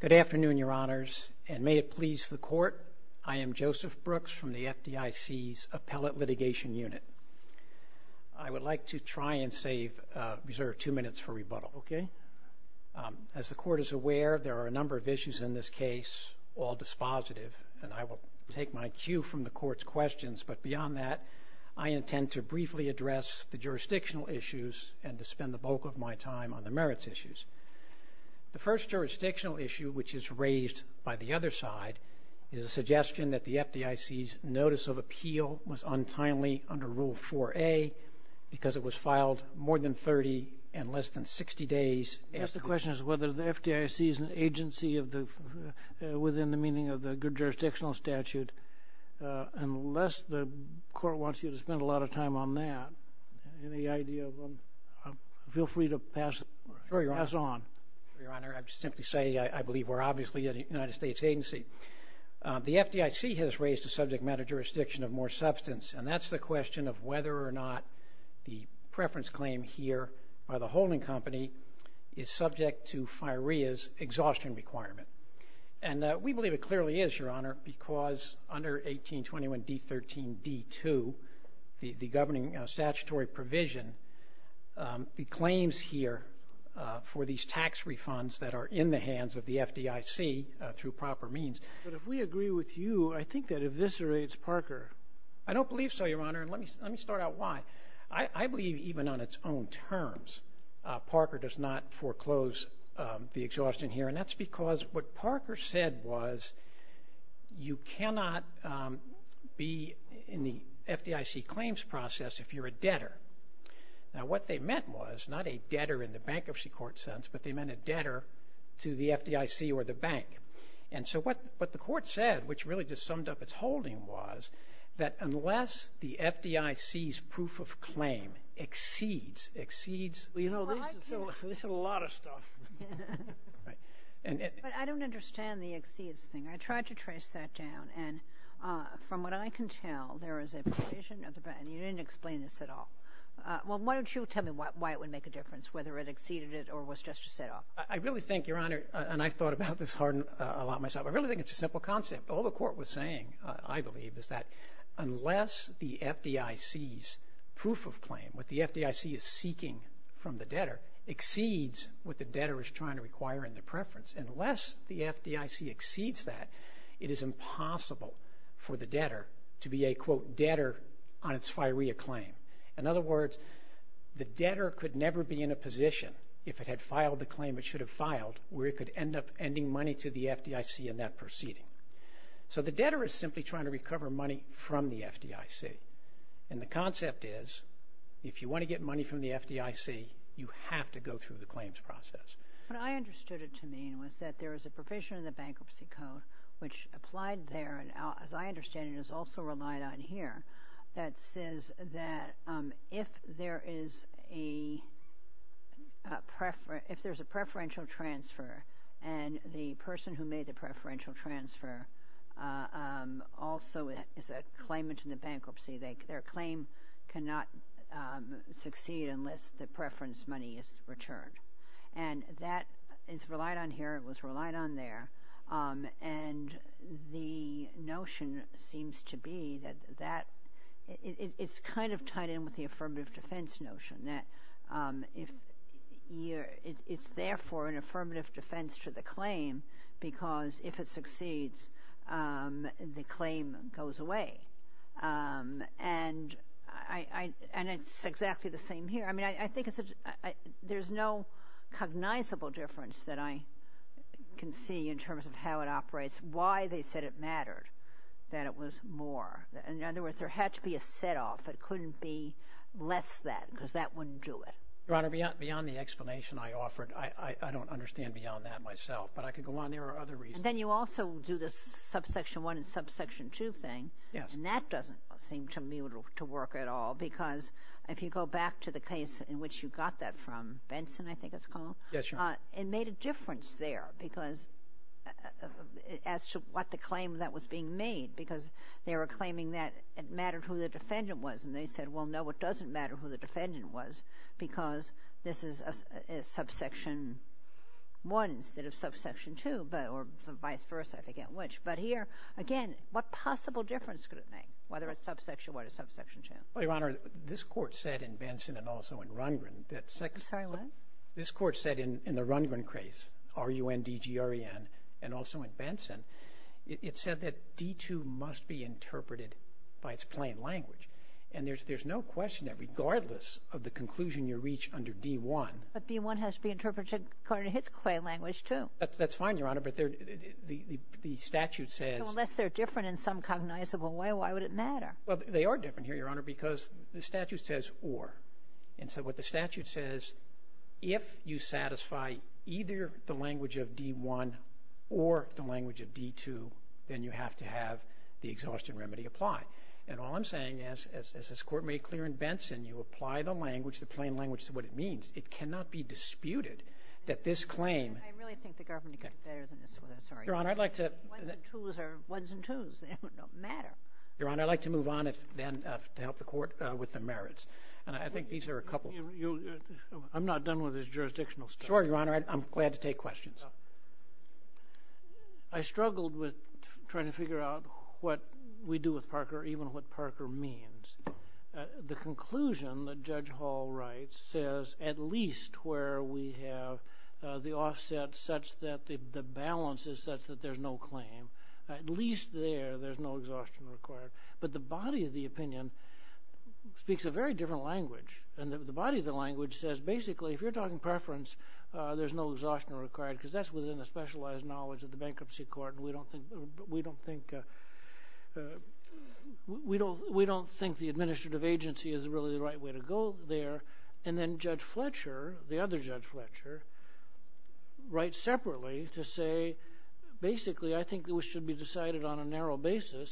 Good afternoon, Your Honors, and may it please the Court, I am Joseph Brooks from the FDIC's Appellate Litigation Unit. I would like to try and reserve two minutes for rebuttal. As the Court is aware, there are a number of issues in this case, all dispositive, and I will take my cue from the Court's questions, but beyond that, I intend to briefly address the jurisdictional issues and to spend the bulk of my time on the merits issues. The first jurisdictional issue, which is raised by the other side, is a suggestion that the FDIC's Notice of Appeal was untimely under Rule 4A because it was filed more than 30 and less than 60 days after. The question is whether the FDIC is an agency within the meaning of the good jurisdictional statute and unless the Court wants you to spend a lot of time on that, any idea? Feel free to pass on. Sure, Your Honor. I'd simply say I believe we're obviously a United States agency. The FDIC has raised a subject matter jurisdiction of more substance, and that's the question of whether or not the preference claim here by the holding company is subject to FIREA's exhaustion requirement. And we believe it clearly is, Your Honor, because under 1821d13d2, the governing statutory provision, the claims here for these tax refunds that are in the hands of the FDIC through proper means. But if we agree with you, I think that eviscerates Parker. I don't believe so, Your Honor, and let me start out why. I believe even on its own terms Parker does not foreclose the exhaustion here, and that's because what Parker said was you cannot be in the FDIC claims process if you're a debtor. Now, what they meant was not a debtor in the bankruptcy court sense, but they meant a debtor to the FDIC or the bank. And so what the Court said, which really just summed up its holding, was that unless the FDIC's proof of claim exceeds, exceeds. You know, this is a lot of stuff. But I don't understand the exceeds thing. I tried to trace that down, and from what I can tell, there is a provision. You didn't explain this at all. Well, why don't you tell me why it would make a difference, whether it exceeded it or was just to set off. I really think, Your Honor, and I've thought about this a lot myself, I really think it's a simple concept. All the Court was saying, I believe, is that unless the FDIC's proof of claim, what the FDIC is seeking from the debtor, exceeds what the debtor is trying to require in the preference. Unless the FDIC exceeds that, it is impossible for the debtor to be a, quote, debtor on its FIREA claim. In other words, the debtor could never be in a position, if it had filed the claim it should have filed, where it could end up ending money to the FDIC in that proceeding. So the debtor is simply trying to recover money from the FDIC. And the concept is, if you want to get money from the FDIC, you have to go through the claims process. What I understood it to mean was that there is a provision in the Bankruptcy Code, which applied there and, as I understand it, is also relied on here, that says that if there is a preferential transfer, and the person who made the preferential transfer also is a claimant in the bankruptcy, their claim cannot succeed unless the preference money is returned. And that is relied on here, it was relied on there. And the notion seems to be that it is kind of tied in with the affirmative defense notion, that it is therefore an affirmative defense to the claim because if it succeeds, the claim goes away. And it is exactly the same here. I mean, I think there is no cognizable difference that I can see in terms of how it operates, why they said it mattered, that it was more. In other words, there had to be a set-off. It couldn't be less than, because that wouldn't do it. Your Honor, beyond the explanation I offered, I don't understand beyond that myself. But I could go on. There are other reasons. And then you also do this subsection 1 and subsection 2 thing. And that doesn't seem to me to work at all, because if you go back to the case in which you got that from Benson, I think it's called. Yes, Your Honor. It made a difference there because as to what the claim that was being made, because they were claiming that it mattered who the defendant was. And they said, well, no, it doesn't matter who the defendant was because this is a subsection 1 instead of subsection 2, or vice versa, I forget which. But here, again, what possible difference could it make, whether it's subsection 1 or subsection 2? Well, Your Honor, this Court said in Benson and also in Rundgren that second- I'm sorry, what? This Court said in the Rundgren case, R-U-N-D-G-R-E-N, and also in Benson, it said that D-2 must be interpreted by its plain language. And there's no question that regardless of the conclusion you reach under D-1- But D-1 has to be interpreted according to its plain language, too. That's fine, Your Honor, but the statute says- Well, they are different here, Your Honor, because the statute says or. And so what the statute says, if you satisfy either the language of D-1 or the language of D-2, then you have to have the exhaustion remedy apply. And all I'm saying is, as this Court made clear in Benson, you apply the language, the plain language, to what it means. It cannot be disputed that this claim- I really think the government could do better than this. Your Honor, I'd like to- Ones and twos are ones and twos. They don't matter. Your Honor, I'd like to move on, then, to help the Court with the merits. And I think these are a couple- I'm not done with this jurisdictional stuff. Sure, Your Honor, I'm glad to take questions. I struggled with trying to figure out what we do with Parker, even what Parker means. The conclusion that Judge Hall writes says, at least where we have the offset such that the balance is such that there's no claim, at least there, there's no exhaustion required. But the body of the opinion speaks a very different language. And the body of the language says, basically, if you're talking preference, there's no exhaustion required, because that's within the specialized knowledge of the Bankruptcy Court, and we don't think the administrative agency is really the right way to go there. And then Judge Fletcher, the other Judge Fletcher, writes separately to say, basically, I think it should be decided on a narrow basis.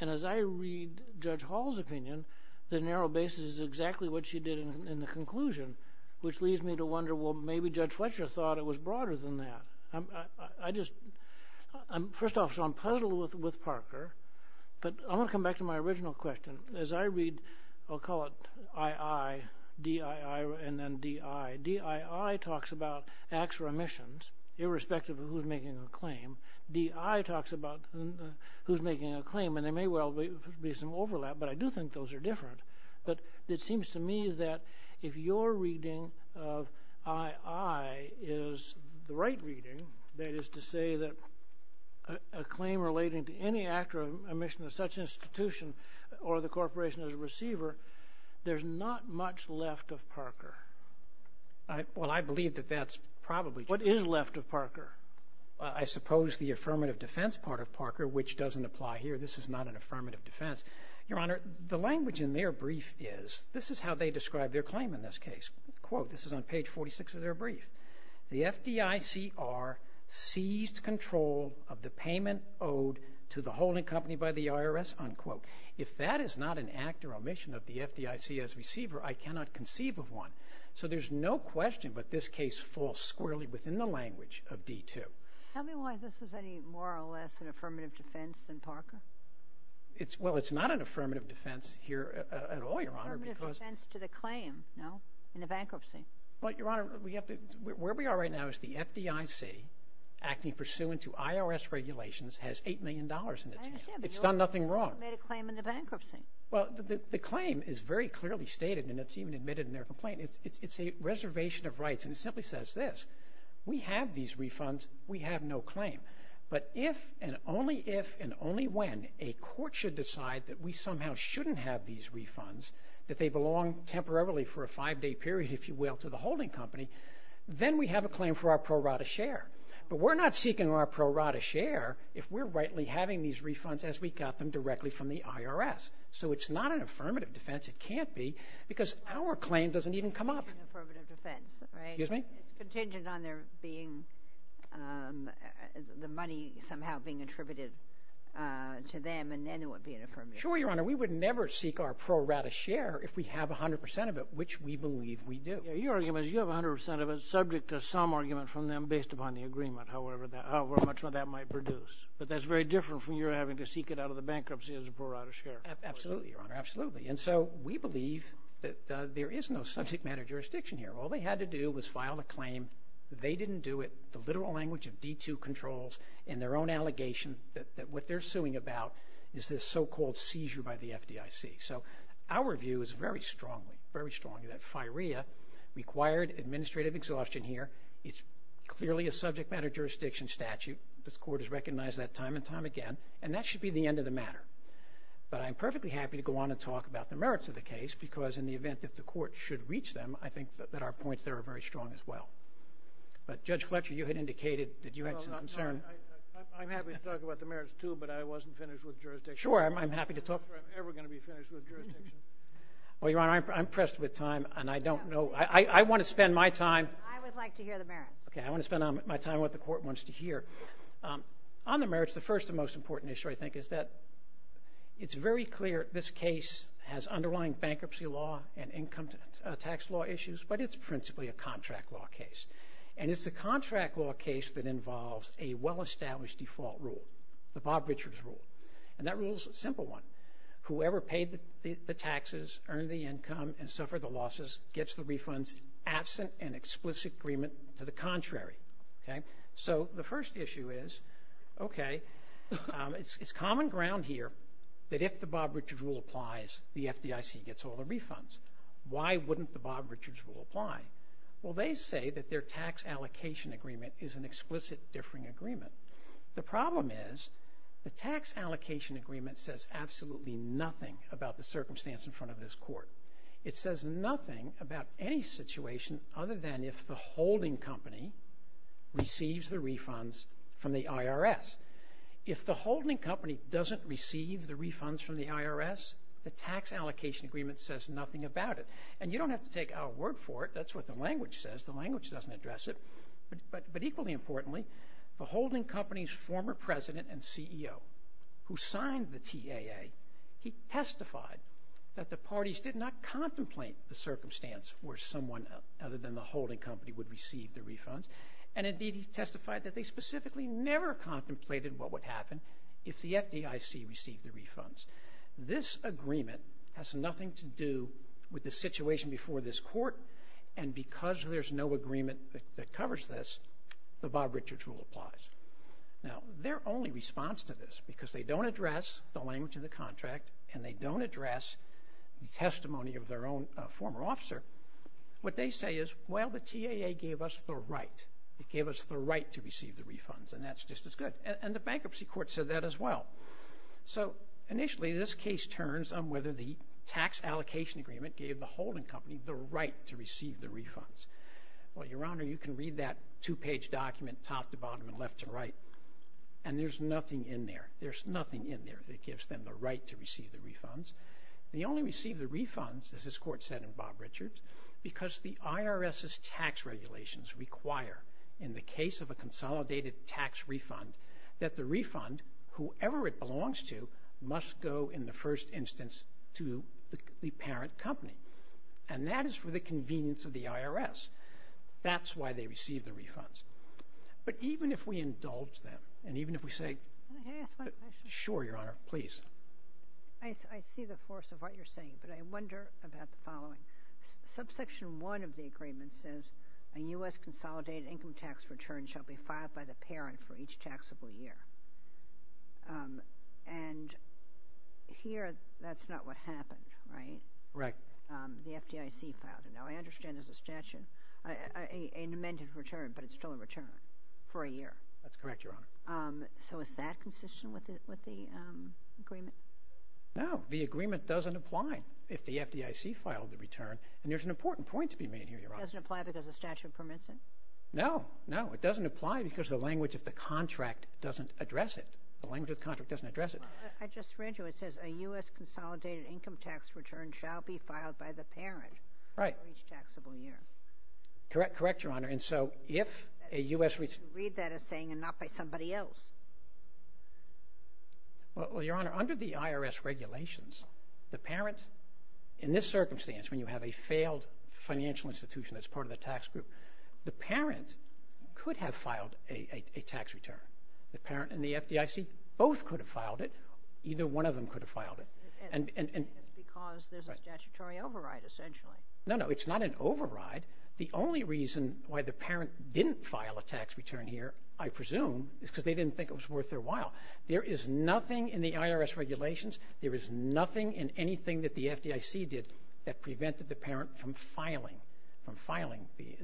And as I read Judge Hall's opinion, the narrow basis is exactly what she did in the conclusion, which leads me to wonder, well, maybe Judge Fletcher thought it was broader than that. First off, so I'm puzzled with Parker. But I want to come back to my original question. As I read, I'll call it I.I., D.I.I., and then D.I. D.I.I. talks about acts or omissions, irrespective of who's making a claim. D.I. talks about who's making a claim. And there may well be some overlap, but I do think those are different. But it seems to me that if your reading of I.I. is the right reading, that is to say that a claim relating to any act or omission of such institution or the corporation as a receiver, there's not much left of Parker. Well, I believe that that's probably true. What is left of Parker? I suppose the affirmative defense part of Parker, which doesn't apply here. This is not an affirmative defense. Your Honor, the language in their brief is, this is how they describe their claim in this case. Quote, this is on page 46 of their brief, the F.D.I.C.R. seized control of the payment owed to the holding company by the I.R.S., unquote. If that is not an act or omission of the F.D.I.C.S. receiver, I cannot conceive of one. So there's no question but this case falls squarely within the language of D.I.I. Tell me why this is any more or less an affirmative defense than Parker. Well, it's not an affirmative defense here at all, Your Honor, because Affirmative defense to the claim, no, in the bankruptcy. Well, Your Honor, where we are right now is the F.D.I.C., acting pursuant to I.R.S. regulations, has $8 million in it. I understand, but you also made a claim in the bankruptcy. Well, the claim is very clearly stated, and it's even admitted in their complaint. It's a reservation of rights, and it simply says this. We have these refunds. We have no claim. But if and only if and only when a court should decide that we somehow shouldn't have these refunds, that they belong temporarily for a five-day period, if you will, to the holding company, then we have a claim for our pro rata share. But we're not seeking our pro rata share if we're rightly having these refunds as we got them directly from the I.R.S. So it's not an affirmative defense. It can't be because our claim doesn't even come up. Affirmative defense, right? Excuse me? It's contingent on there being the money somehow being attributed to them, and then it would be an affirmative defense. Sure, Your Honor. We would never seek our pro rata share if we have 100 percent of it, which we believe we do. Your argument is you have 100 percent of it subject to some argument from them based upon the agreement, however much that might produce. But that's very different from your having to seek it out of the bankruptcy as a pro rata share. Absolutely, Your Honor. Absolutely. And so we believe that there is no subject matter jurisdiction here. All they had to do was file a claim. They didn't do it. D2 controls in their own allegation that what they're suing about is this so-called seizure by the FDIC. So our view is very strongly, very strongly that FIREA required administrative exhaustion here. It's clearly a subject matter jurisdiction statute. This Court has recognized that time and time again, and that should be the end of the matter. But I'm perfectly happy to go on and talk about the merits of the case because in the event that the Court should reach them, I think that our points there are very strong as well. But, Judge Fletcher, you had indicated that you had some concern. I'm happy to talk about the merits, too, but I wasn't finished with jurisdiction. Sure, I'm happy to talk. I'm not sure I'm ever going to be finished with jurisdiction. Well, Your Honor, I'm pressed with time, and I don't know. I want to spend my time. I would like to hear the merits. Okay, I want to spend my time on what the Court wants to hear. On the merits, the first and most important issue, I think, is that it's very clear this case has underlying bankruptcy law and income tax law issues, but it's principally a contract law case. And it's a contract law case that involves a well-established default rule, the Bob Richards Rule. And that rule is a simple one. Whoever paid the taxes, earned the income, and suffered the losses gets the refunds, absent an explicit agreement to the contrary. So the first issue is, okay, it's common ground here that if the Bob Richards Rule applies, the FDIC gets all the refunds. Why wouldn't the Bob Richards Rule apply? Well, they say that their tax allocation agreement is an explicit differing agreement. The problem is the tax allocation agreement says absolutely nothing about the circumstance in front of this Court. It says nothing about any situation other than if the holding company receives the refunds from the IRS. If the holding company doesn't receive the refunds from the IRS, the tax allocation agreement says nothing about it. And you don't have to take our word for it. That's what the language says. The language doesn't address it. But equally importantly, the holding company's former president and CEO, who signed the TAA, he testified that the parties did not contemplate the circumstance where someone other than the holding company would receive the refunds, and indeed he testified that they specifically never contemplated what would happen if the FDIC received the refunds. This agreement has nothing to do with the situation before this Court, and because there's no agreement that covers this, the Bob Richards Rule applies. Now, their only response to this, because they don't address the language in the contract and they don't address the testimony of their own former officer, what they say is, well, the TAA gave us the right. It gave us the right to receive the refunds, and that's just as good. And the Bankruptcy Court said that as well. So initially this case turns on whether the tax allocation agreement gave the holding company the right to receive the refunds. Well, Your Honor, you can read that two-page document top to bottom and left to right, and there's nothing in there, there's nothing in there that gives them the right to receive the refunds. They only receive the refunds, as this Court said in Bob Richards, because the IRS's tax regulations require, in the case of a consolidated tax refund, that the refund, whoever it belongs to, must go in the first instance to the parent company. And that is for the convenience of the IRS. That's why they receive the refunds. But even if we indulge them, and even if we say, sure, Your Honor, please. I see the force of what you're saying, but I wonder about the following. Subsection 1 of the agreement says, a U.S. consolidated income tax return shall be filed by the parent for each taxable year. And here that's not what happened, right? Right. The FDIC filed it. Now, I understand there's a statute, an amended return, but it's still a return for a year. That's correct, Your Honor. So is that consistent with the agreement? No, the agreement doesn't apply if the FDIC filed the return. And there's an important point to be made here, Your Honor. It doesn't apply because the statute permits it? No, no, it doesn't apply because the language of the contract doesn't address it. The language of the contract doesn't address it. I just read you. It says, a U.S. consolidated income tax return shall be filed by the parent for each taxable year. Correct, Your Honor. And so if a U.S. Read that as saying, and not by somebody else. Well, Your Honor, under the IRS regulations, the parent, in this circumstance, when you have a failed financial institution that's part of the tax group, the parent could have filed a tax return. The parent and the FDIC both could have filed it. Either one of them could have filed it. And it's because there's a statutory override, essentially. No, no, it's not an override. The only reason why the parent didn't file a tax return here, I presume, is because they didn't think it was worth their while. There is nothing in the IRS regulations, there is nothing in anything that the FDIC did that prevented the parent from filing the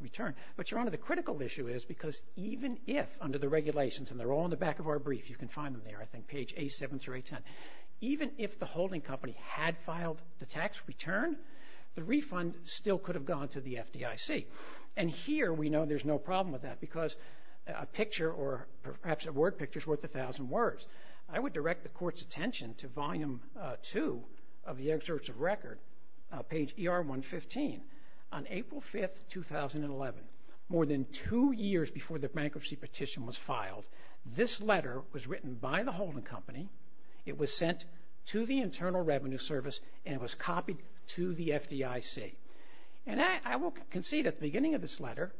return. But, Your Honor, the critical issue is because even if, under the regulations, and they're all in the back of our brief, you can find them there, I think, page A7 through A10, even if the holding company had filed the tax return, the refund still could have gone to the FDIC. And here we know there's no problem with that because a picture or perhaps a word picture is worth a thousand words. I would direct the Court's attention to Volume 2 of the excerpts of record, page ER 115. On April 5, 2011, more than two years before the bankruptcy petition was filed, this letter was written by the holding company, it was sent to the Internal Revenue Service, and it was copied to the FDIC. And I will concede at the beginning of this letter,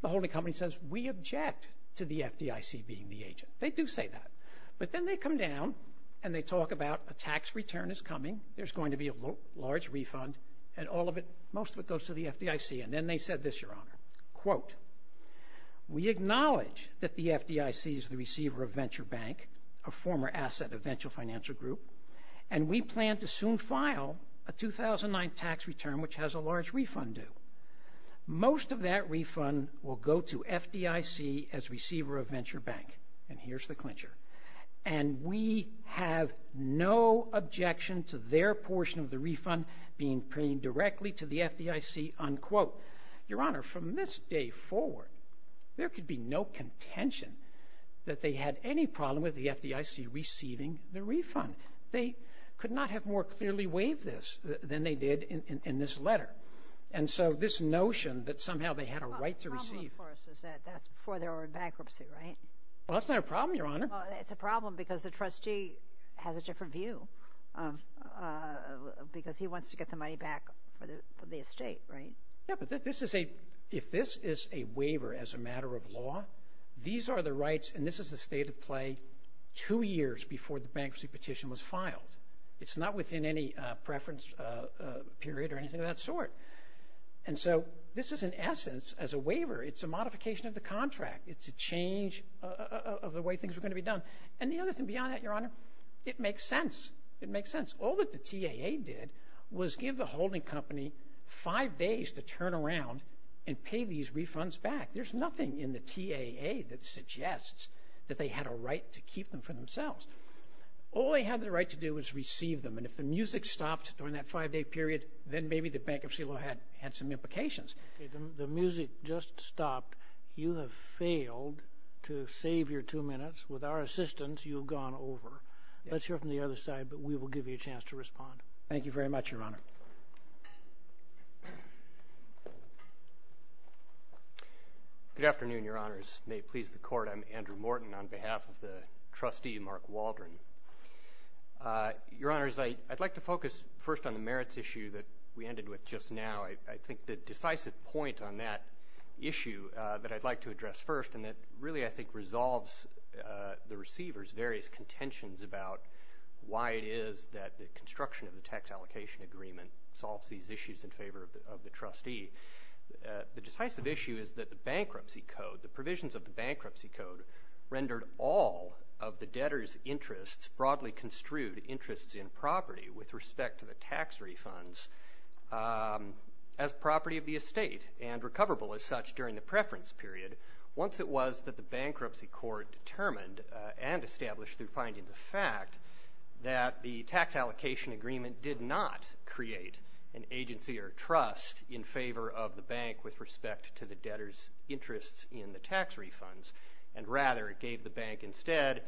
the holding company says, we object to the FDIC being the agent. They do say that. But then they come down and they talk about a tax return is coming, there's going to be a large refund, and all of it, most of it goes to the FDIC. And then they said this, Your Honor, quote, we acknowledge that the FDIC is the receiver of Venture Bank, a former asset of Venture Financial Group, and we plan to soon file a 2009 tax return which has a large refund due. Most of that refund will go to FDIC as receiver of Venture Bank. And here's the clincher. And we have no objection to their portion of the refund being paid directly to the FDIC, unquote. Your Honor, from this day forward, there could be no contention that they had any problem with the FDIC receiving the refund. They could not have more clearly waived this than they did in this letter. And so this notion that somehow they had a right to receive it. The problem, of course, is that that's before they were in bankruptcy, right? Well, that's not a problem, Your Honor. Well, it's a problem because the trustee has a different view because he wants to get the money back for the estate, right? Yeah, but if this is a waiver as a matter of law, these are the rights and this is the state of play two years before the bankruptcy petition was filed. It's not within any preference period or anything of that sort. And so this is, in essence, as a waiver. It's a modification of the contract. It's a change of the way things were going to be done. And the other thing beyond that, Your Honor, it makes sense. It makes sense. All that the TAA did was give the holding company five days to turn around and pay these refunds back. There's nothing in the TAA that suggests that they had a right to keep them for themselves. All they had the right to do was receive them. And if the music stopped during that five-day period, then maybe the bankruptcy law had some implications. Okay. The music just stopped. You have failed to save your two minutes. With our assistance, you've gone over. Let's hear from the other side, but we will give you a chance to respond. Thank you very much, Your Honor. Good afternoon, Your Honors. May it please the Court. I'm Andrew Morton on behalf of the trustee, Mark Waldron. Your Honors, I'd like to focus first on the merits issue that we ended with just now. I think the decisive point on that issue that I'd like to address first, and that really I think resolves the receiver's various contentions about why it is that the construction of the tax allocation agreement solves these issues in favor of the trustee. The decisive issue is that the bankruptcy code, the provisions of the bankruptcy code, rendered all of the debtor's interests, broadly construed interests in property with respect to the tax refunds, as property of the estate and recoverable as such during the preference period. Once it was that the bankruptcy court determined and established through findings of fact that the tax allocation agreement did not create an agency or trust in favor of the bank with respect to the debtor's interests in the tax refunds, and rather it gave the bank instead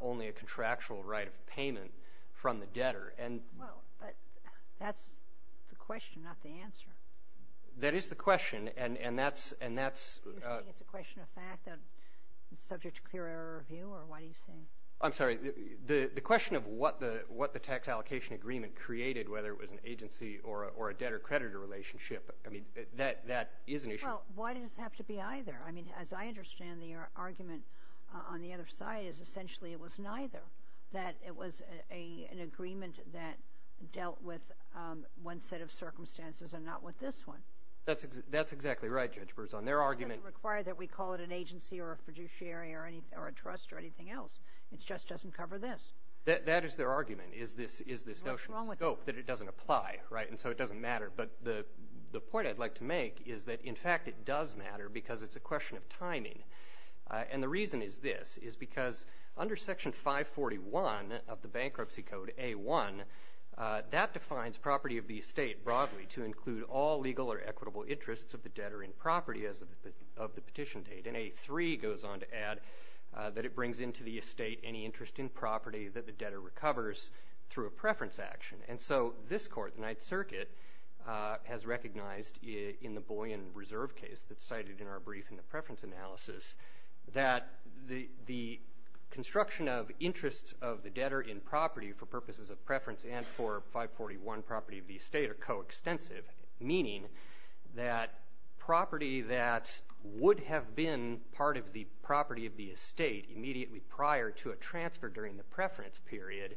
only a contractual right of payment from the debtor. Well, but that's the question, not the answer. That is the question, and that's — You're saying it's a question of fact, subject to clear error of view, or what are you saying? I'm sorry. The question of what the tax allocation agreement created, whether it was an agency or a debtor-creditor relationship, I mean, that is an issue. Well, why does it have to be either? I mean, as I understand the argument on the other side is essentially it was neither, that it was an agreement that dealt with one set of circumstances and not with this one. That's exactly right, Judge Burrs. On their argument — They call it an agency or a fiduciary or a trust or anything else. It just doesn't cover this. That is their argument, is this notion of scope, that it doesn't apply, right, and so it doesn't matter. But the point I'd like to make is that, in fact, it does matter because it's a question of timing. And the reason is this, is because under Section 541 of the Bankruptcy Code, A1, that defines property of the estate broadly to include all legal or equitable interests of the debtor in property, as of the petition date, and A3 goes on to add that it brings into the estate any interest in property that the debtor recovers through a preference action. And so this Court, the Ninth Circuit, has recognized in the Boyan Reserve case that's cited in our brief in the preference analysis that the construction of interests of the debtor in property for purposes of preference and for 541 property of the estate are coextensive, meaning that property that would have been part of the property of the estate immediately prior to a transfer during the preference period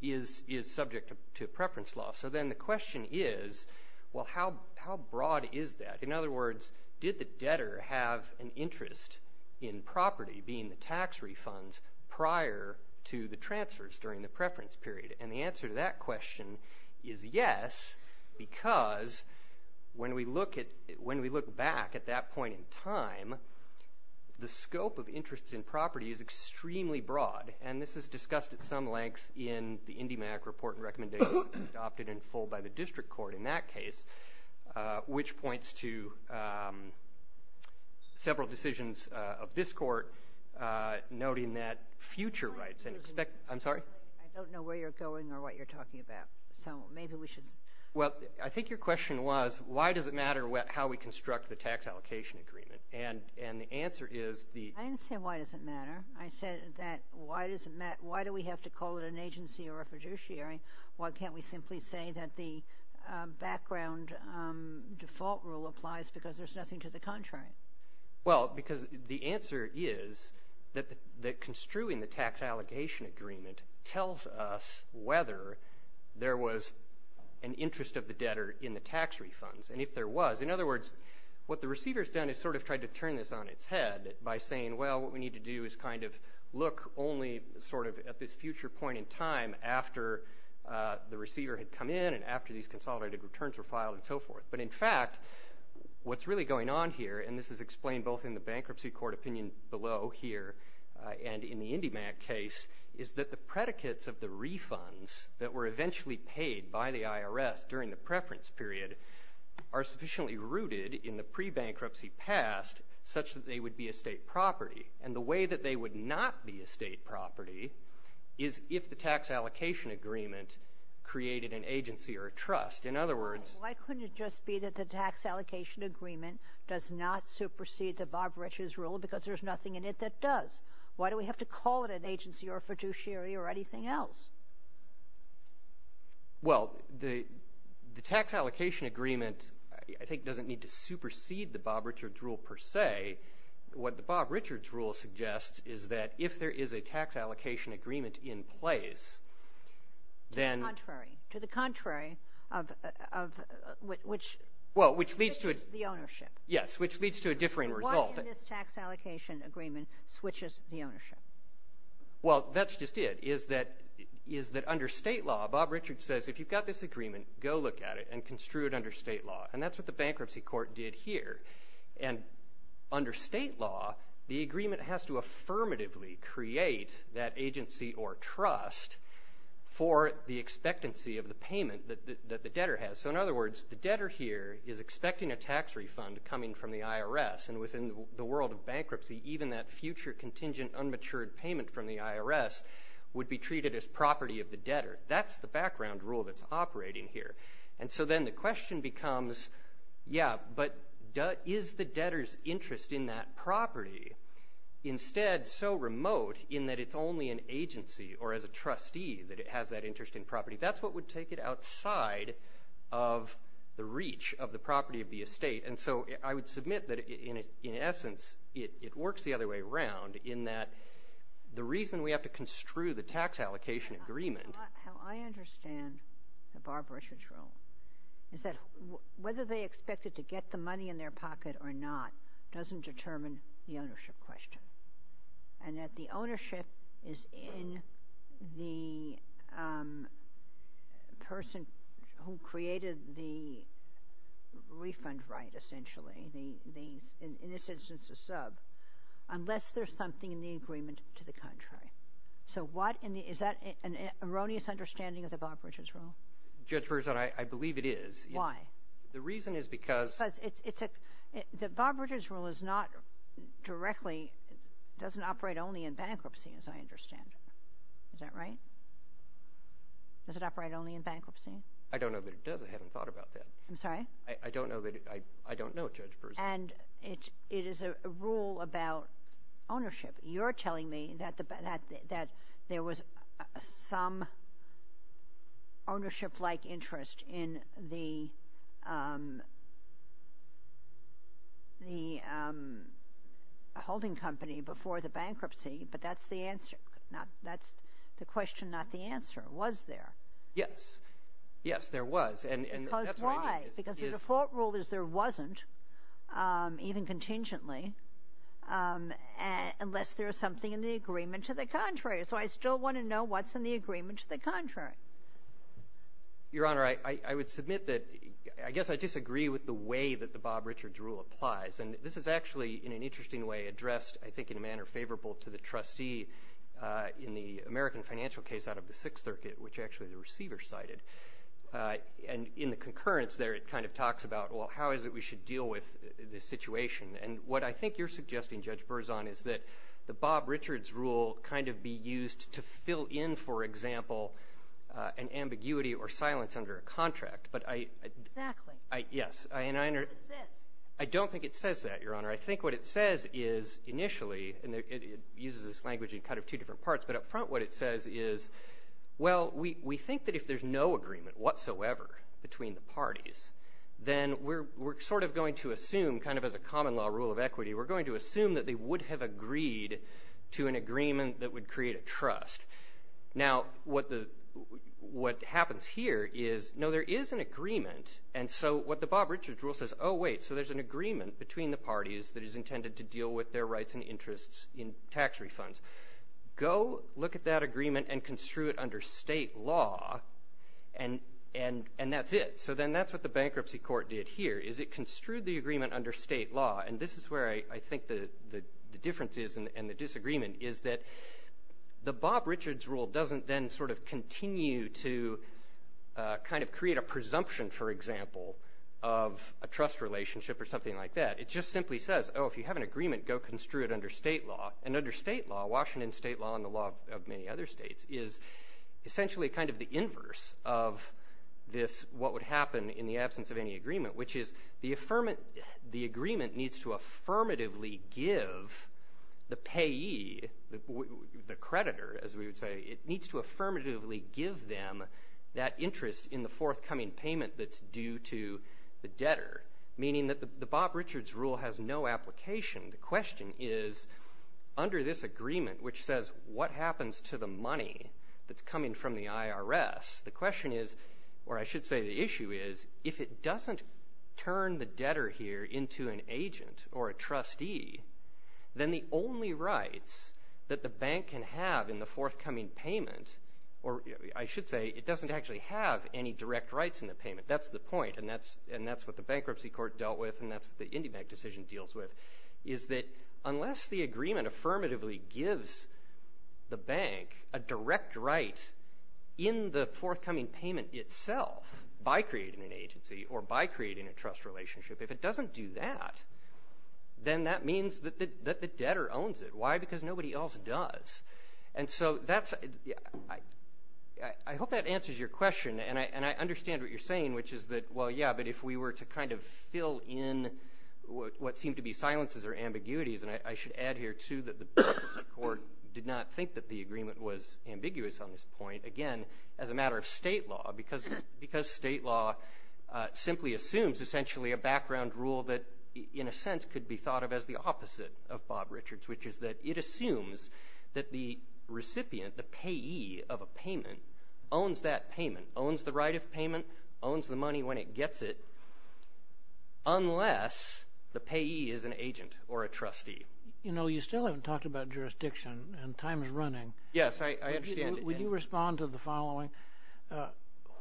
is subject to preference law. So then the question is, well, how broad is that? In other words, did the debtor have an interest in property, being the tax refunds, prior to the transfers during the preference period? And the answer to that question is yes, because when we look back at that point in time, the scope of interest in property is extremely broad. And this is discussed at some length in the IndyMac report and recommendation adopted in full by the District Court in that case, which points to several decisions of this Court, noting that future rights and expect... I'm sorry? I don't know where you're going or what you're talking about, so maybe we should... Well, I think your question was, why does it matter how we construct the tax allocation agreement? And the answer is the... I didn't say why does it matter. I said that why does it matter? Why do we have to call it an agency or a fiduciary? Why can't we simply say that the background default rule applies because there's nothing to the contrary? Well, because the answer is that construing the tax allocation agreement tells us whether there was an interest of the debtor in the tax refunds, and if there was. In other words, what the receiver has done is sort of tried to turn this on its head by saying, well, what we need to do is kind of look only sort of at this future point in time after the receiver had come in and after these consolidated returns were filed and so forth. But, in fact, what's really going on here, and this is explained both in the bankruptcy court opinion below here and in the IndyMac case, is that the predicates of the refunds that were eventually paid by the IRS during the preference period are sufficiently rooted in the pre-bankruptcy past such that they would be estate property. And the way that they would not be estate property is if the tax allocation agreement created an agency or a trust. In other words, why couldn't it just be that the tax allocation agreement does not supersede the Bob Riches rule because there's nothing in it that does? Why do we have to call it an agency or a fiduciary or anything else? Well, the tax allocation agreement, I think, doesn't need to supersede the Bob Richards rule per se. What the Bob Richards rule suggests is that if there is a tax allocation agreement in place, then... To the contrary. To the contrary of which... Well, which leads to... Switches the ownership. Yes, which leads to a differing result. Why in this tax allocation agreement switches the ownership? Well, that's just it, is that under state law, Bob Richards says, if you've got this agreement, go look at it and construe it under state law. And that's what the bankruptcy court did here. And under state law, the agreement has to affirmatively create that agency or trust for the expectancy of the payment that the debtor has. So, in other words, the debtor here is expecting a tax refund coming from the IRS. And within the world of bankruptcy, even that future contingent unmatured payment from the IRS would be treated as property of the debtor. That's the background rule that's operating here. And so then the question becomes, yeah, but is the debtor's interest in that property instead so remote in that it's only an agency or as a trustee that it has that interest in property? That's what would take it outside of the reach of the property of the estate. And so I would submit that, in essence, it works the other way around in that the reason we have to construe the tax allocation agreement. How I understand the Bob Richards rule is that whether they expect it to get the money in their pocket or not doesn't determine the ownership question. And that the ownership is in the person who created the refund right, essentially. In this instance, the sub. Unless there's something in the agreement to the contrary. So what in the – is that an erroneous understanding of the Bob Richards rule? Judge Berzon, I believe it is. Why? The reason is because – Bob Richards rule is not directly – doesn't operate only in bankruptcy as I understand it. Is that right? Does it operate only in bankruptcy? I don't know that it does. I haven't thought about that. I'm sorry? I don't know that – I don't know, Judge Berzon. And it is a rule about ownership. You're telling me that there was some ownership-like interest in the holding company before the bankruptcy, but that's the answer. That's the question, not the answer. Was there? Yes. Yes, there was. Because why? Because the default rule is there wasn't, even contingently, unless there is something in the agreement to the contrary. So I still want to know what's in the agreement to the contrary. Your Honor, I would submit that – I guess I disagree with the way that the Bob Richards rule applies. And this is actually, in an interesting way, addressed, I think, in a manner favorable to the trustee in the American financial case out of the Sixth Circuit, which actually the receiver cited. And in the concurrence there, it kind of talks about, well, how is it we should deal with this situation? And what I think you're suggesting, Judge Berzon, is that the Bob Richards rule kind of be used to fill in, for example, an ambiguity or silence under a contract. Exactly. Yes. I don't think it says that, Your Honor. I think what it says is, initially, and it uses this language in kind of two different parts, but up front what it says is, well, we think that if there's no agreement whatsoever between the parties, then we're sort of going to assume, kind of as a common law rule of equity, we're going to assume that they would have agreed to an agreement that would create a trust. Now, what happens here is, no, there is an agreement. And so what the Bob Richards rule says, oh, wait, so there's an agreement between the parties that is intended to deal with their rights and interests in tax refunds. Go look at that agreement and construe it under state law, and that's it. So then that's what the bankruptcy court did here, is it construed the agreement under state law. And this is where I think the difference is and the disagreement is that the Bob Richards rule doesn't then sort of continue to kind of create a presumption, for example, of a trust relationship or something like that. It just simply says, oh, if you have an agreement, go construe it under state law. And under state law, Washington state law and the law of many other states, is essentially kind of the inverse of this, what would happen in the absence of any agreement, which is the agreement needs to affirmatively give the payee, the creditor, as we would say, it needs to affirmatively give them that interest in the forthcoming payment that's due to the debtor, meaning that the Bob Richards rule has no application. The question is, under this agreement, which says what happens to the money that's coming from the IRS, the question is, or I should say the issue is, if it doesn't turn the debtor here into an agent or a trustee, then the only rights that the bank can have in the forthcoming payment, or I should say it doesn't actually have any direct rights in the payment, that's the point, and that's what the Bankruptcy Court dealt with and that's what the IndyBank decision deals with, is that unless the agreement affirmatively gives the bank a direct right in the forthcoming payment itself by creating an agency or by creating a trust relationship, if it doesn't do that, then that means that the debtor owns it. Why? Because nobody else does. And so that's, I hope that answers your question, and I understand what you're saying, which is that, well, yeah, but if we were to kind of fill in what seem to be silences or ambiguities, and I should add here, too, that the Bankruptcy Court did not think that the agreement was ambiguous on this point, again, as a matter of state law, because state law simply assumes, essentially, a background rule that, in a sense, could be thought of as the opposite of Bob Richards, which is that it assumes that the recipient, the payee of a payment, owns that payment, owns the right of payment, owns the money when it gets it, unless the payee is an agent or a trustee. You know, you still haven't talked about jurisdiction, and time is running. Yes, I understand. Would you respond to the following?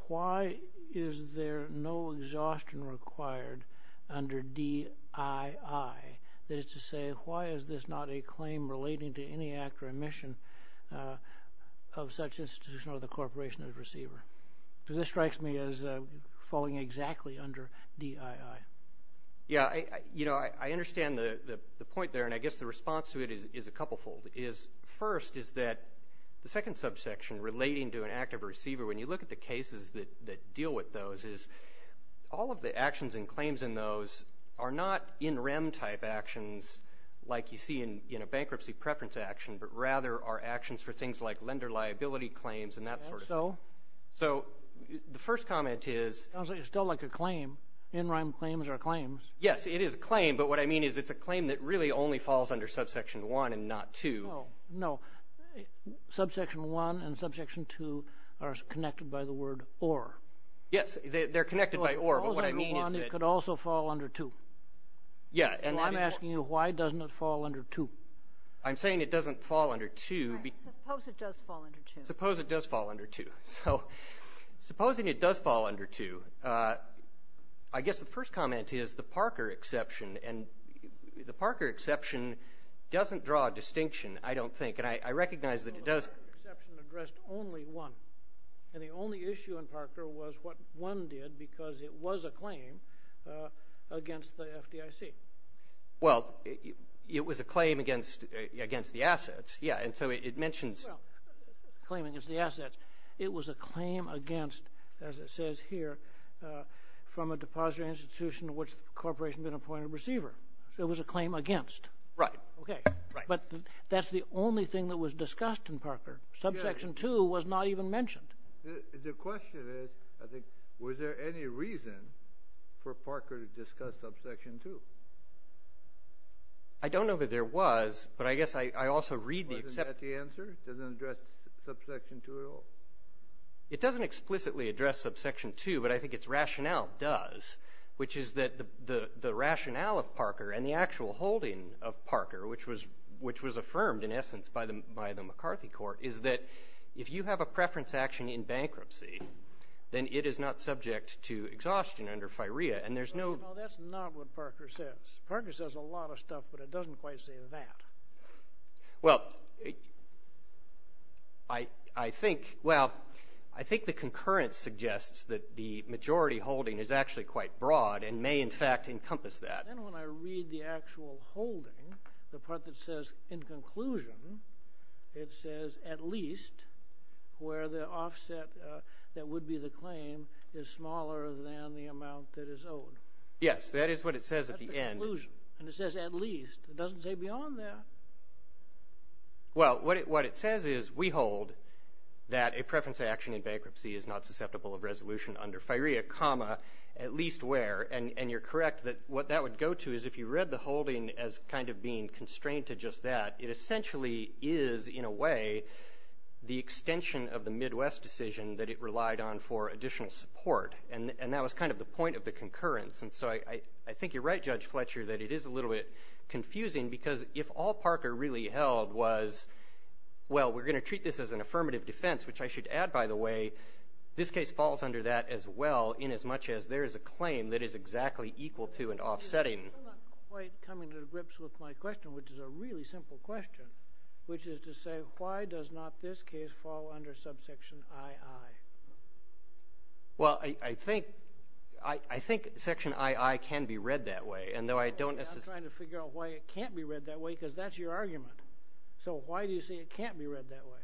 Why is there no exhaustion required under DII? That is to say, why is this not a claim relating to any act or omission of such institution or the corporation of the receiver? Because this strikes me as falling exactly under DII. Yeah, you know, I understand the point there, and I guess the response to it is a couplefold. First is that the second subsection, relating to an act of a receiver, when you look at the cases that deal with those, all of the actions and claims in those are not NREM-type actions like you see in a bankruptcy preference action, but rather are actions for things like lender liability claims and that sort of thing. So? So the first comment is… It sounds like it's still like a claim. NREM claims are claims. Yes, it is a claim, but what I mean is it's a claim that really only falls under subsection 1 and not 2. No, subsection 1 and subsection 2 are connected by the word or. Yes, they're connected by or, but what I mean is that… Well, if it falls under 1, it could also fall under 2. Yeah, and that is what… Well, I'm asking you, why doesn't it fall under 2? I'm saying it doesn't fall under 2. All right, suppose it does fall under 2. Suppose it does fall under 2. So supposing it does fall under 2, I guess the first comment is the Parker exception, and the Parker exception doesn't draw a distinction, I don't think, and I recognize that it does… And the only issue in Parker was what one did because it was a claim against the FDIC. Well, it was a claim against the assets. Yeah, and so it mentions… Well, claiming it's the assets. It was a claim against, as it says here, from a depository institution to which the corporation had been appointed a receiver. So it was a claim against. Right. Right. But that's the only thing that was discussed in Parker. Subsection 2 was not even mentioned. The question is, I think, was there any reason for Parker to discuss subsection 2? I don't know that there was, but I guess I also read the… Wasn't that the answer? It doesn't address subsection 2 at all? It doesn't explicitly address subsection 2, but I think its rationale does, which was affirmed, in essence, by the McCarthy court, is that if you have a preference action in bankruptcy, then it is not subject to exhaustion under FIREA, and there's no… No, that's not what Parker says. Parker says a lot of stuff, but it doesn't quite say that. Well, I think the concurrence suggests that the majority holding is actually quite broad and may, in fact, encompass that. Then when I read the actual holding, the part that says, in conclusion, it says at least, where the offset that would be the claim is smaller than the amount that is owed. Yes, that is what it says at the end. That's the conclusion. And it says at least. It doesn't say beyond that. Well, what it says is we hold that a preference action in bankruptcy is not susceptible of resolution under FIREA, at least where, and you're correct that what that would go to is if you read the holding as kind of being constrained to just that, it essentially is, in a way, the extension of the Midwest decision that it relied on for additional support, and that was kind of the point of the concurrence. And so I think you're right, Judge Fletcher, that it is a little bit confusing, because if all Parker really held was, well, we're going to treat this as an affirmative defense, which I should add, by the way, this case falls under that as well, inasmuch as there is a claim that is exactly equal to and offsetting. I'm not quite coming to grips with my question, which is a really simple question, which is to say why does not this case fall under subsection II? Well, I think section II can be read that way. I'm trying to figure out why it can't be read that way, because that's your argument. So why do you say it can't be read that way?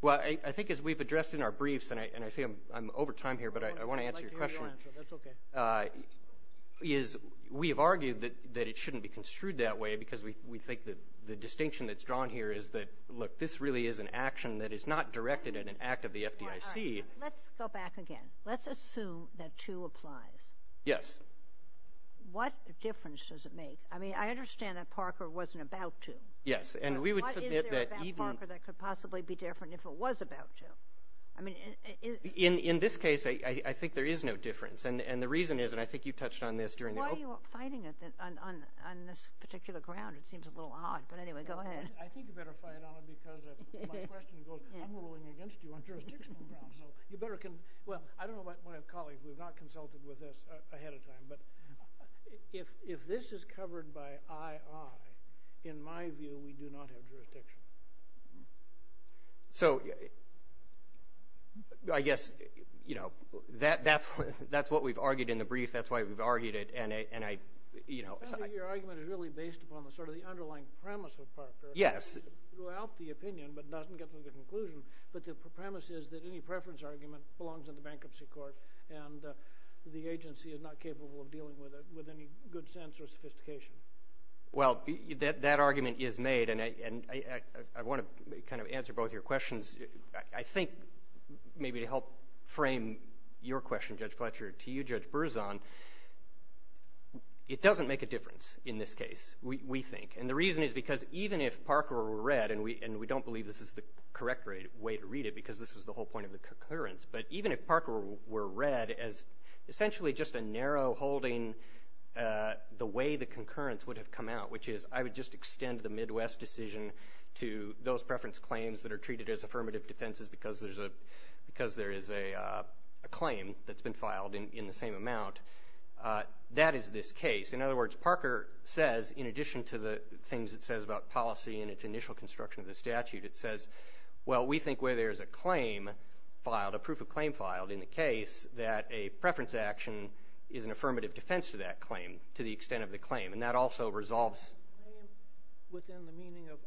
Well, I think as we've addressed in our briefs, and I say I'm over time here, but I want to answer your question. I'd like to hear your answer. That's okay. We have argued that it shouldn't be construed that way, because we think the distinction that's drawn here is that, look, this really is an action that is not directed in an act of the FDIC. Let's go back again. Let's assume that II applies. Yes. What difference does it make? I mean, I understand that Parker wasn't about II. Yes. What is there about Parker that could possibly be different if it was about Joe? In this case, I think there is no difference. And the reason is, and I think you touched on this during the opening. Why are you fighting on this particular ground? It seems a little odd. But anyway, go ahead. I think you better fight on it, because my question goes, I'm ruling against you on jurisdictional grounds. So you better can – well, I don't know about my colleagues. We've not consulted with this ahead of time. But if this is covered by II, in my view, we do not have jurisdiction. So I guess, you know, that's what we've argued in the brief. That's why we've argued it. Your argument is really based upon sort of the underlying premise of Parker. Yes. It's throughout the opinion, but it doesn't get to the conclusion. But the premise is that any preference argument belongs in the bankruptcy court, and the agency is not capable of dealing with it with any good sense or sophistication. Well, that argument is made, and I want to kind of answer both your questions. I think maybe to help frame your question, Judge Fletcher, to you, Judge Berzon, it doesn't make a difference in this case, we think. And the reason is because even if Parker were read, and we don't believe this is the correct way to read it because this was the whole point of the concurrence, but even if Parker were read as essentially just a narrow holding, the way the concurrence would have come out, which is, I would just extend the Midwest decision to those preference claims that are treated as affirmative defenses because there is a claim that's been filed in the same amount, that is this case. In other words, Parker says, in addition to the things it says about policy and its initial construction of the statute, it says, well, we think where there is a claim filed, a proof of claim filed in the case, that a preference action is an affirmative defense to that claim to the extent of the claim, and that also resolves. Within the meaning of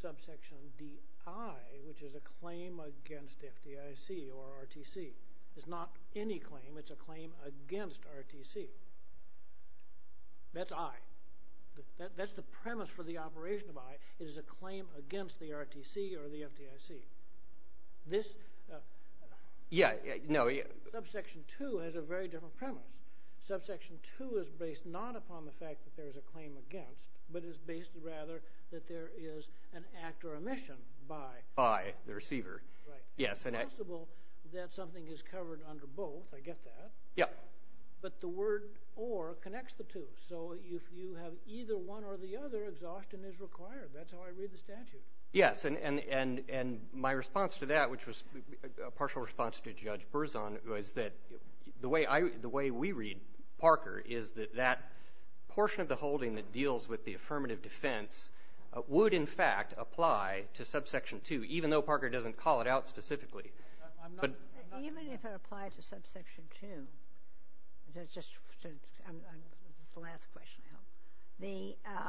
subsection DI, which is a claim against FDIC or RTC, it's not any claim, it's a claim against RTC. That's I. That's the premise for the operation of I. It is a claim against the RTC or the FDIC. Subsection II has a very different premise. Subsection II is based not upon the fact that there is a claim against, but is based rather that there is an act or omission by. By the receiver. It's possible that something is covered under both. I get that. But the word or connects the two. So if you have either one or the other, exhaustion is required. That's how I read the statute. Yes, and my response to that, which was a partial response to Judge Berzon, was that the way we read Parker is that that portion of the holding that deals with the affirmative defense would, in fact, apply to subsection II, even though Parker doesn't call it out specifically. Even if it applied to subsection II, this is the last question, I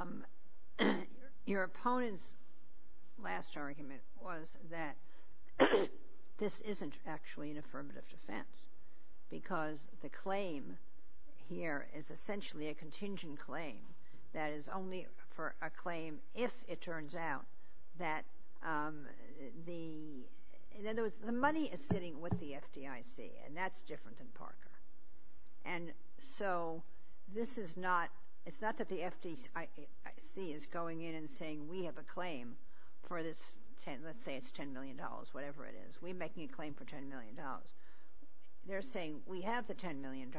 hope, your opponent's last argument was that this isn't actually an affirmative defense because the claim here is essentially a contingent claim that is only for a claim if it turns out that the So the money is sitting with the FDIC, and that's different than Parker. And so this is not, it's not that the FDIC is going in and saying we have a claim for this, let's say it's $10 million, whatever it is. We're making a claim for $10 million. They're saying we have the $10 million,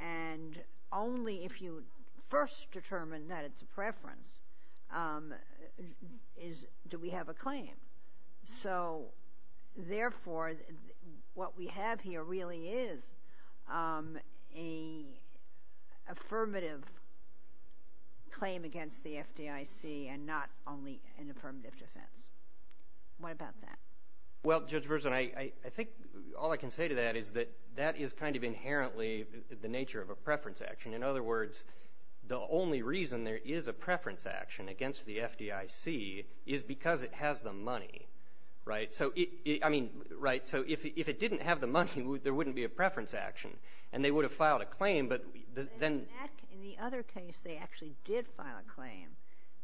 and only if you first determine that it's a preference do we have a claim. So, therefore, what we have here really is an affirmative claim against the FDIC and not only an affirmative defense. What about that? Well, Judge Berzon, I think all I can say to that is that that is kind of inherently the nature of a preference action. In other words, the only reason there is a preference action against the FDIC is because it has the money, right? So, I mean, right, so if it didn't have the money, there wouldn't be a preference action, and they would have filed a claim, but then. In the other case, they actually did file a claim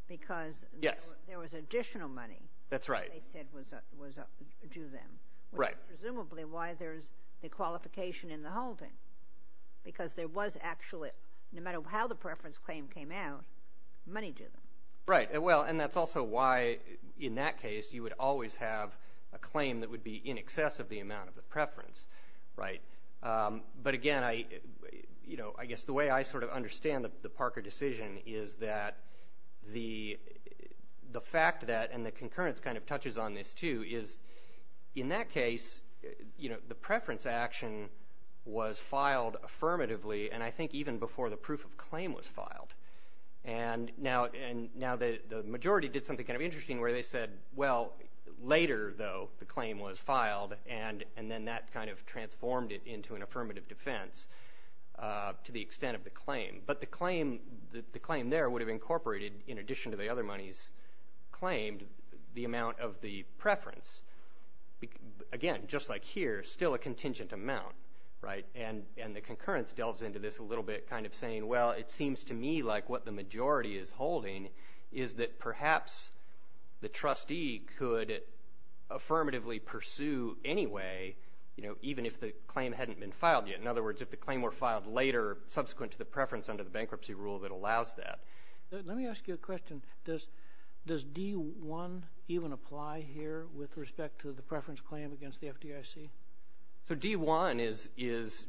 because there was additional money. That's right. They said was due them. Right. That's presumably why there's the qualification in the holding, because there was actually, no matter how the preference claim came out, money due them. Right. Well, and that's also why in that case you would always have a claim that would be in excess of the amount of the preference, right? But, again, I guess the way I sort of understand the Parker decision is that the fact that, and the concurrence kind of touches on this, too, is in that case, you know, the preference action was filed affirmatively, and I think even before the proof of claim was filed. And now the majority did something kind of interesting where they said, well, later, though, the claim was filed, and then that kind of transformed it into an affirmative defense to the extent of the claim. But the claim there would have incorporated, in addition to the other monies claimed, the amount of the preference. Again, just like here, still a contingent amount, right? And the concurrence delves into this a little bit kind of saying, well, it seems to me like what the majority is holding is that perhaps the trustee could affirmatively pursue anyway, you know, even if the claim hadn't been filed yet. In other words, if the claim were filed later subsequent to the preference under the bankruptcy rule that allows that. Let me ask you a question. Does D-1 even apply here with respect to the preference claim against the FDIC? So D-1 is,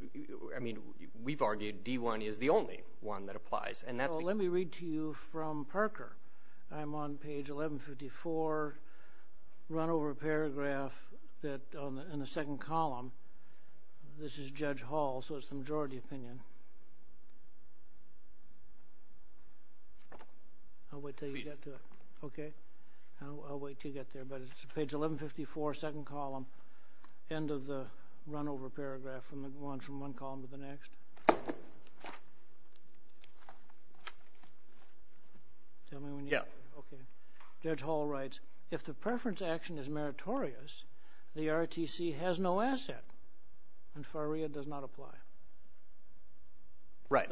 I mean, we've argued D-1 is the only one that applies. Well, let me read to you from Parker. I'm on page 1154, run over paragraph that in the second column. This is Judge Hall, so it's the majority opinion. I'll wait until you get to it. Okay. I'll wait until you get there. But it's page 1154, second column, end of the run over paragraph from one column to the next. Tell me when you get there. Yeah. Okay. Judge Hall writes, if the preference action is meritorious, the ROTC has no asset and FAREA does not apply. Right.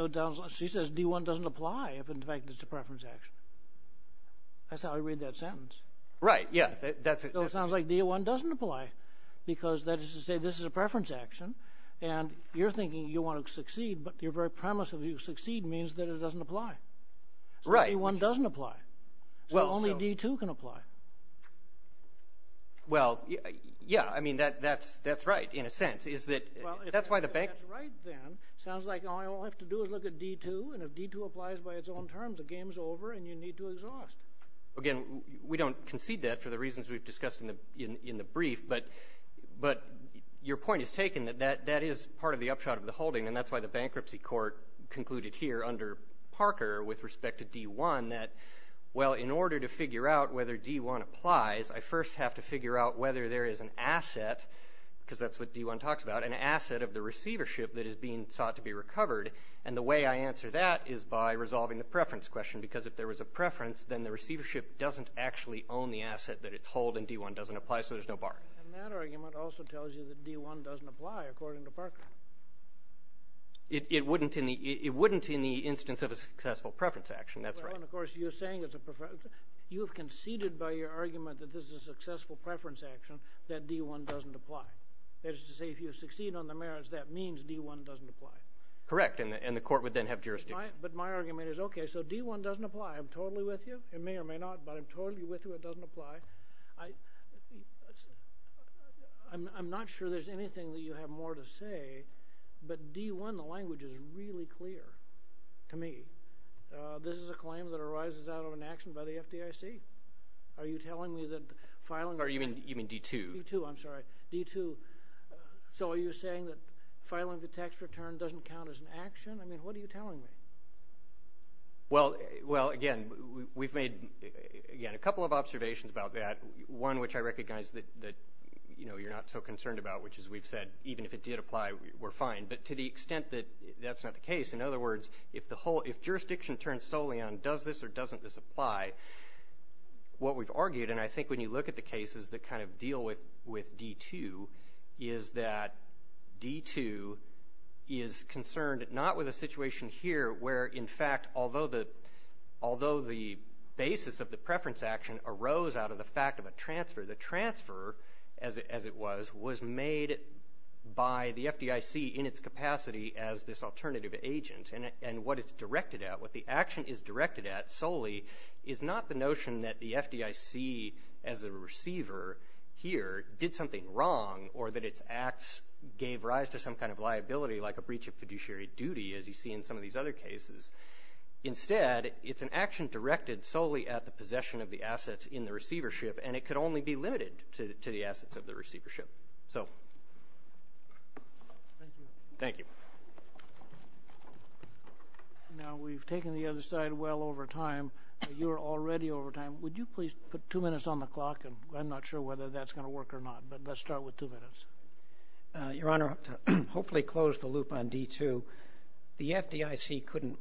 She says D-1 doesn't apply if, in fact, it's a preference action. That's how I read that sentence. Right. Yeah. So it sounds like D-1 doesn't apply because that is to say this is a preference action, and you're thinking you want to succeed, but your very premise of you succeed means that it doesn't apply. So D-1 doesn't apply. Well, so. So only D-2 can apply. Well, yeah, I mean, that's right in a sense. Well, if that's right then, it sounds like all I have to do is look at D-2, and if D-2 applies by its own terms, the game's over and you need to exhaust. Again, we don't concede that for the reasons we've discussed in the brief, but your point is taken that that is part of the upshot of the holding, and that's why the bankruptcy court concluded here under Parker with respect to D-1 that, well, in order to figure out whether D-1 applies, I first have to figure out whether there is an asset, because that's what D-1 talks about, an asset of the receivership that is being sought to be recovered, and the way I answer that is by resolving the preference question, because if there was a preference, then the receivership doesn't actually own the asset that it's hold and D-1 doesn't apply, so there's no bar. And that argument also tells you that D-1 doesn't apply, according to Parker. It wouldn't in the instance of a successful preference action. That's right. Well, and, of course, you're saying it's a preference. You have conceded by your argument that this is a successful preference action that D-1 doesn't apply. That is to say, if you succeed on the merits, that means D-1 doesn't apply. Correct, and the court would then have jurisdiction. But my argument is, okay, so D-1 doesn't apply. I'm totally with you. It may or may not, but I'm totally with you it doesn't apply. I'm not sure there's anything that you have more to say, but D-1, the language is really clear to me. This is a claim that arises out of an action by the FDIC. Are you telling me that filing the tax return… You mean D-2? D-2, I'm sorry. D-2. So are you saying that filing the tax return doesn't count as an action? I mean, what are you telling me? Well, again, we've made, again, a couple of observations about that, one which I recognize that, you know, you're not so concerned about, which is we've said even if it did apply, we're fine. But to the extent that that's not the case, in other words, if jurisdiction turns solely on does this or doesn't this apply, what we've argued, and I think when you look at the cases that kind of deal with D-2, is that D-2 is concerned not with a situation here where, in fact, although the basis of the preference action arose out of the fact of a transfer, the transfer, as it was, was made by the FDIC in its capacity as this alternative agent. And what it's directed at, what the action is directed at solely, is not the notion that the FDIC as a receiver here did something wrong or that its acts gave rise to some kind of liability like a breach of fiduciary duty, as you see in some of these other cases. Instead, it's an action directed solely at the possession of the assets in the receivership, and it could only be limited to the assets of the receivership. So. Thank you. Thank you. Now, we've taken the other side well over time, but you're already over time. Would you please put two minutes on the clock, and I'm not sure whether that's going to work or not, but let's start with two minutes. Your Honor, to hopefully close the loop on D-2, the FDIC couldn't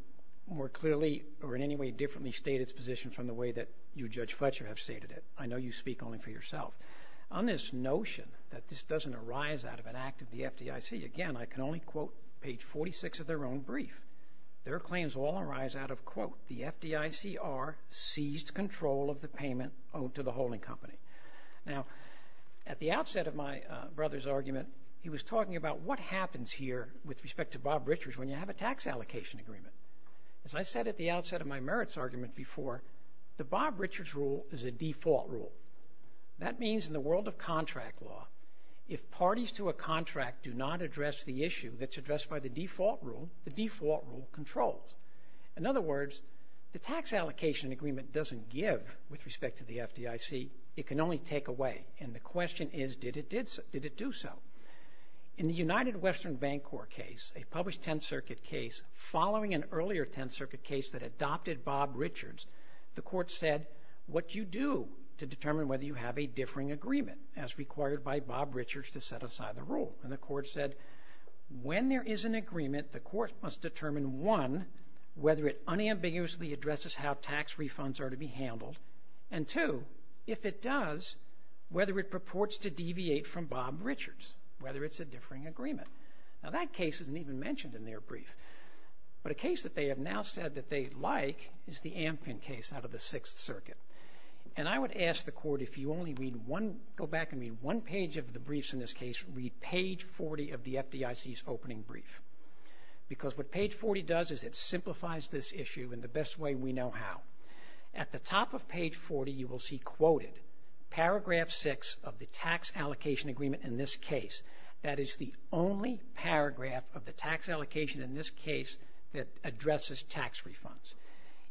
more clearly or in any way differently state its position from the way that you, Judge Fletcher, have stated it. I know you speak only for yourself. On this notion that this doesn't arise out of an act of the FDIC, again, I can only quote page 46 of their own brief. Their claims all arise out of, quote, the FDICR seized control of the payment owed to the holding company. Now, at the outset of my brother's argument, he was talking about what happens here with respect to Bob Richards when you have a tax allocation agreement. As I said at the outset of my merits argument before, the Bob Richards rule is a default rule. That means in the world of contract law, if parties to a contract do not address the issue that's addressed by the default rule, the default rule controls. In other words, the tax allocation agreement doesn't give with respect to the FDIC. It can only take away, and the question is, did it do so? In the United Western Bancorp case, a published Tenth Circuit case, following an earlier Tenth Circuit case that adopted Bob Richards, the court said, what do you do to determine whether you have a differing agreement, as required by Bob Richards to set aside the rule? And the court said, when there is an agreement, the court must determine, one, whether it unambiguously addresses how tax refunds are to be handled, and two, if it does, whether it purports to deviate from Bob Richards, whether it's a differing agreement. Now, that case isn't even mentioned in their brief. But a case that they have now said that they like is the Amfin case out of the Sixth Circuit. And I would ask the court, if you only read one, go back and read one page of the briefs in this case, read page 40 of the FDIC's opening brief. Because what page 40 does is it simplifies this issue in the best way we know how. At the top of page 40, you will see quoted, paragraph 6 of the tax allocation agreement in this case. That is the only paragraph of the tax allocation in this case that addresses tax refunds.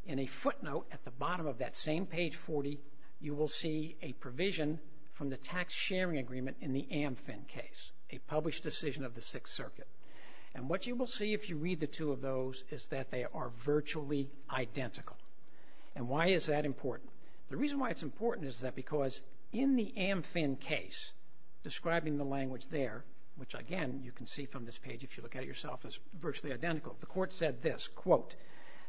In a footnote at the bottom of that same page 40, you will see a provision from the tax sharing agreement in the Amfin case, a published decision of the Sixth Circuit. And what you will see if you read the two of those is that they are virtually identical. And why is that important? The reason why it's important is that because in the Amfin case, describing the language there, which, again, you can see from this page, if you look at it yourself, is virtually identical, the court said this, quote,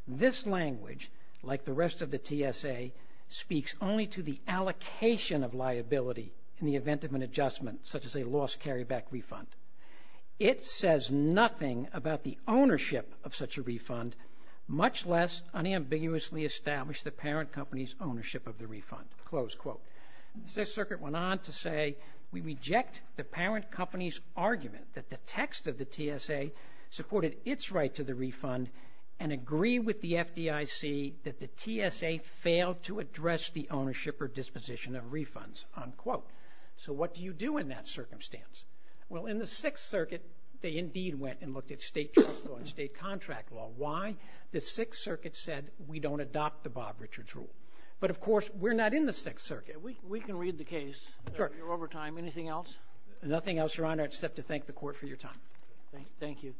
this language, like the rest of the TSA, speaks only to the allocation of liability in the event of an adjustment, such as a lost carryback refund. It says nothing about the ownership of such a refund, much less unambiguously establish the parent company's ownership of the refund. Close quote. The Sixth Circuit went on to say, we reject the parent company's argument that the text of the TSA supported its right to the refund and agree with the FDIC that the TSA failed to address the ownership or disposition of refunds. Unquote. So what do you do in that circumstance? Well, in the Sixth Circuit, they indeed went and looked at state choice law and state contract law. Why? The Sixth Circuit said we don't adopt the Bob Richards rule. But, of course, we're not in the Sixth Circuit. We can read the case. Sure. You're over time. Anything else? Nothing else, Your Honor, except to thank the court for your time. Thank you.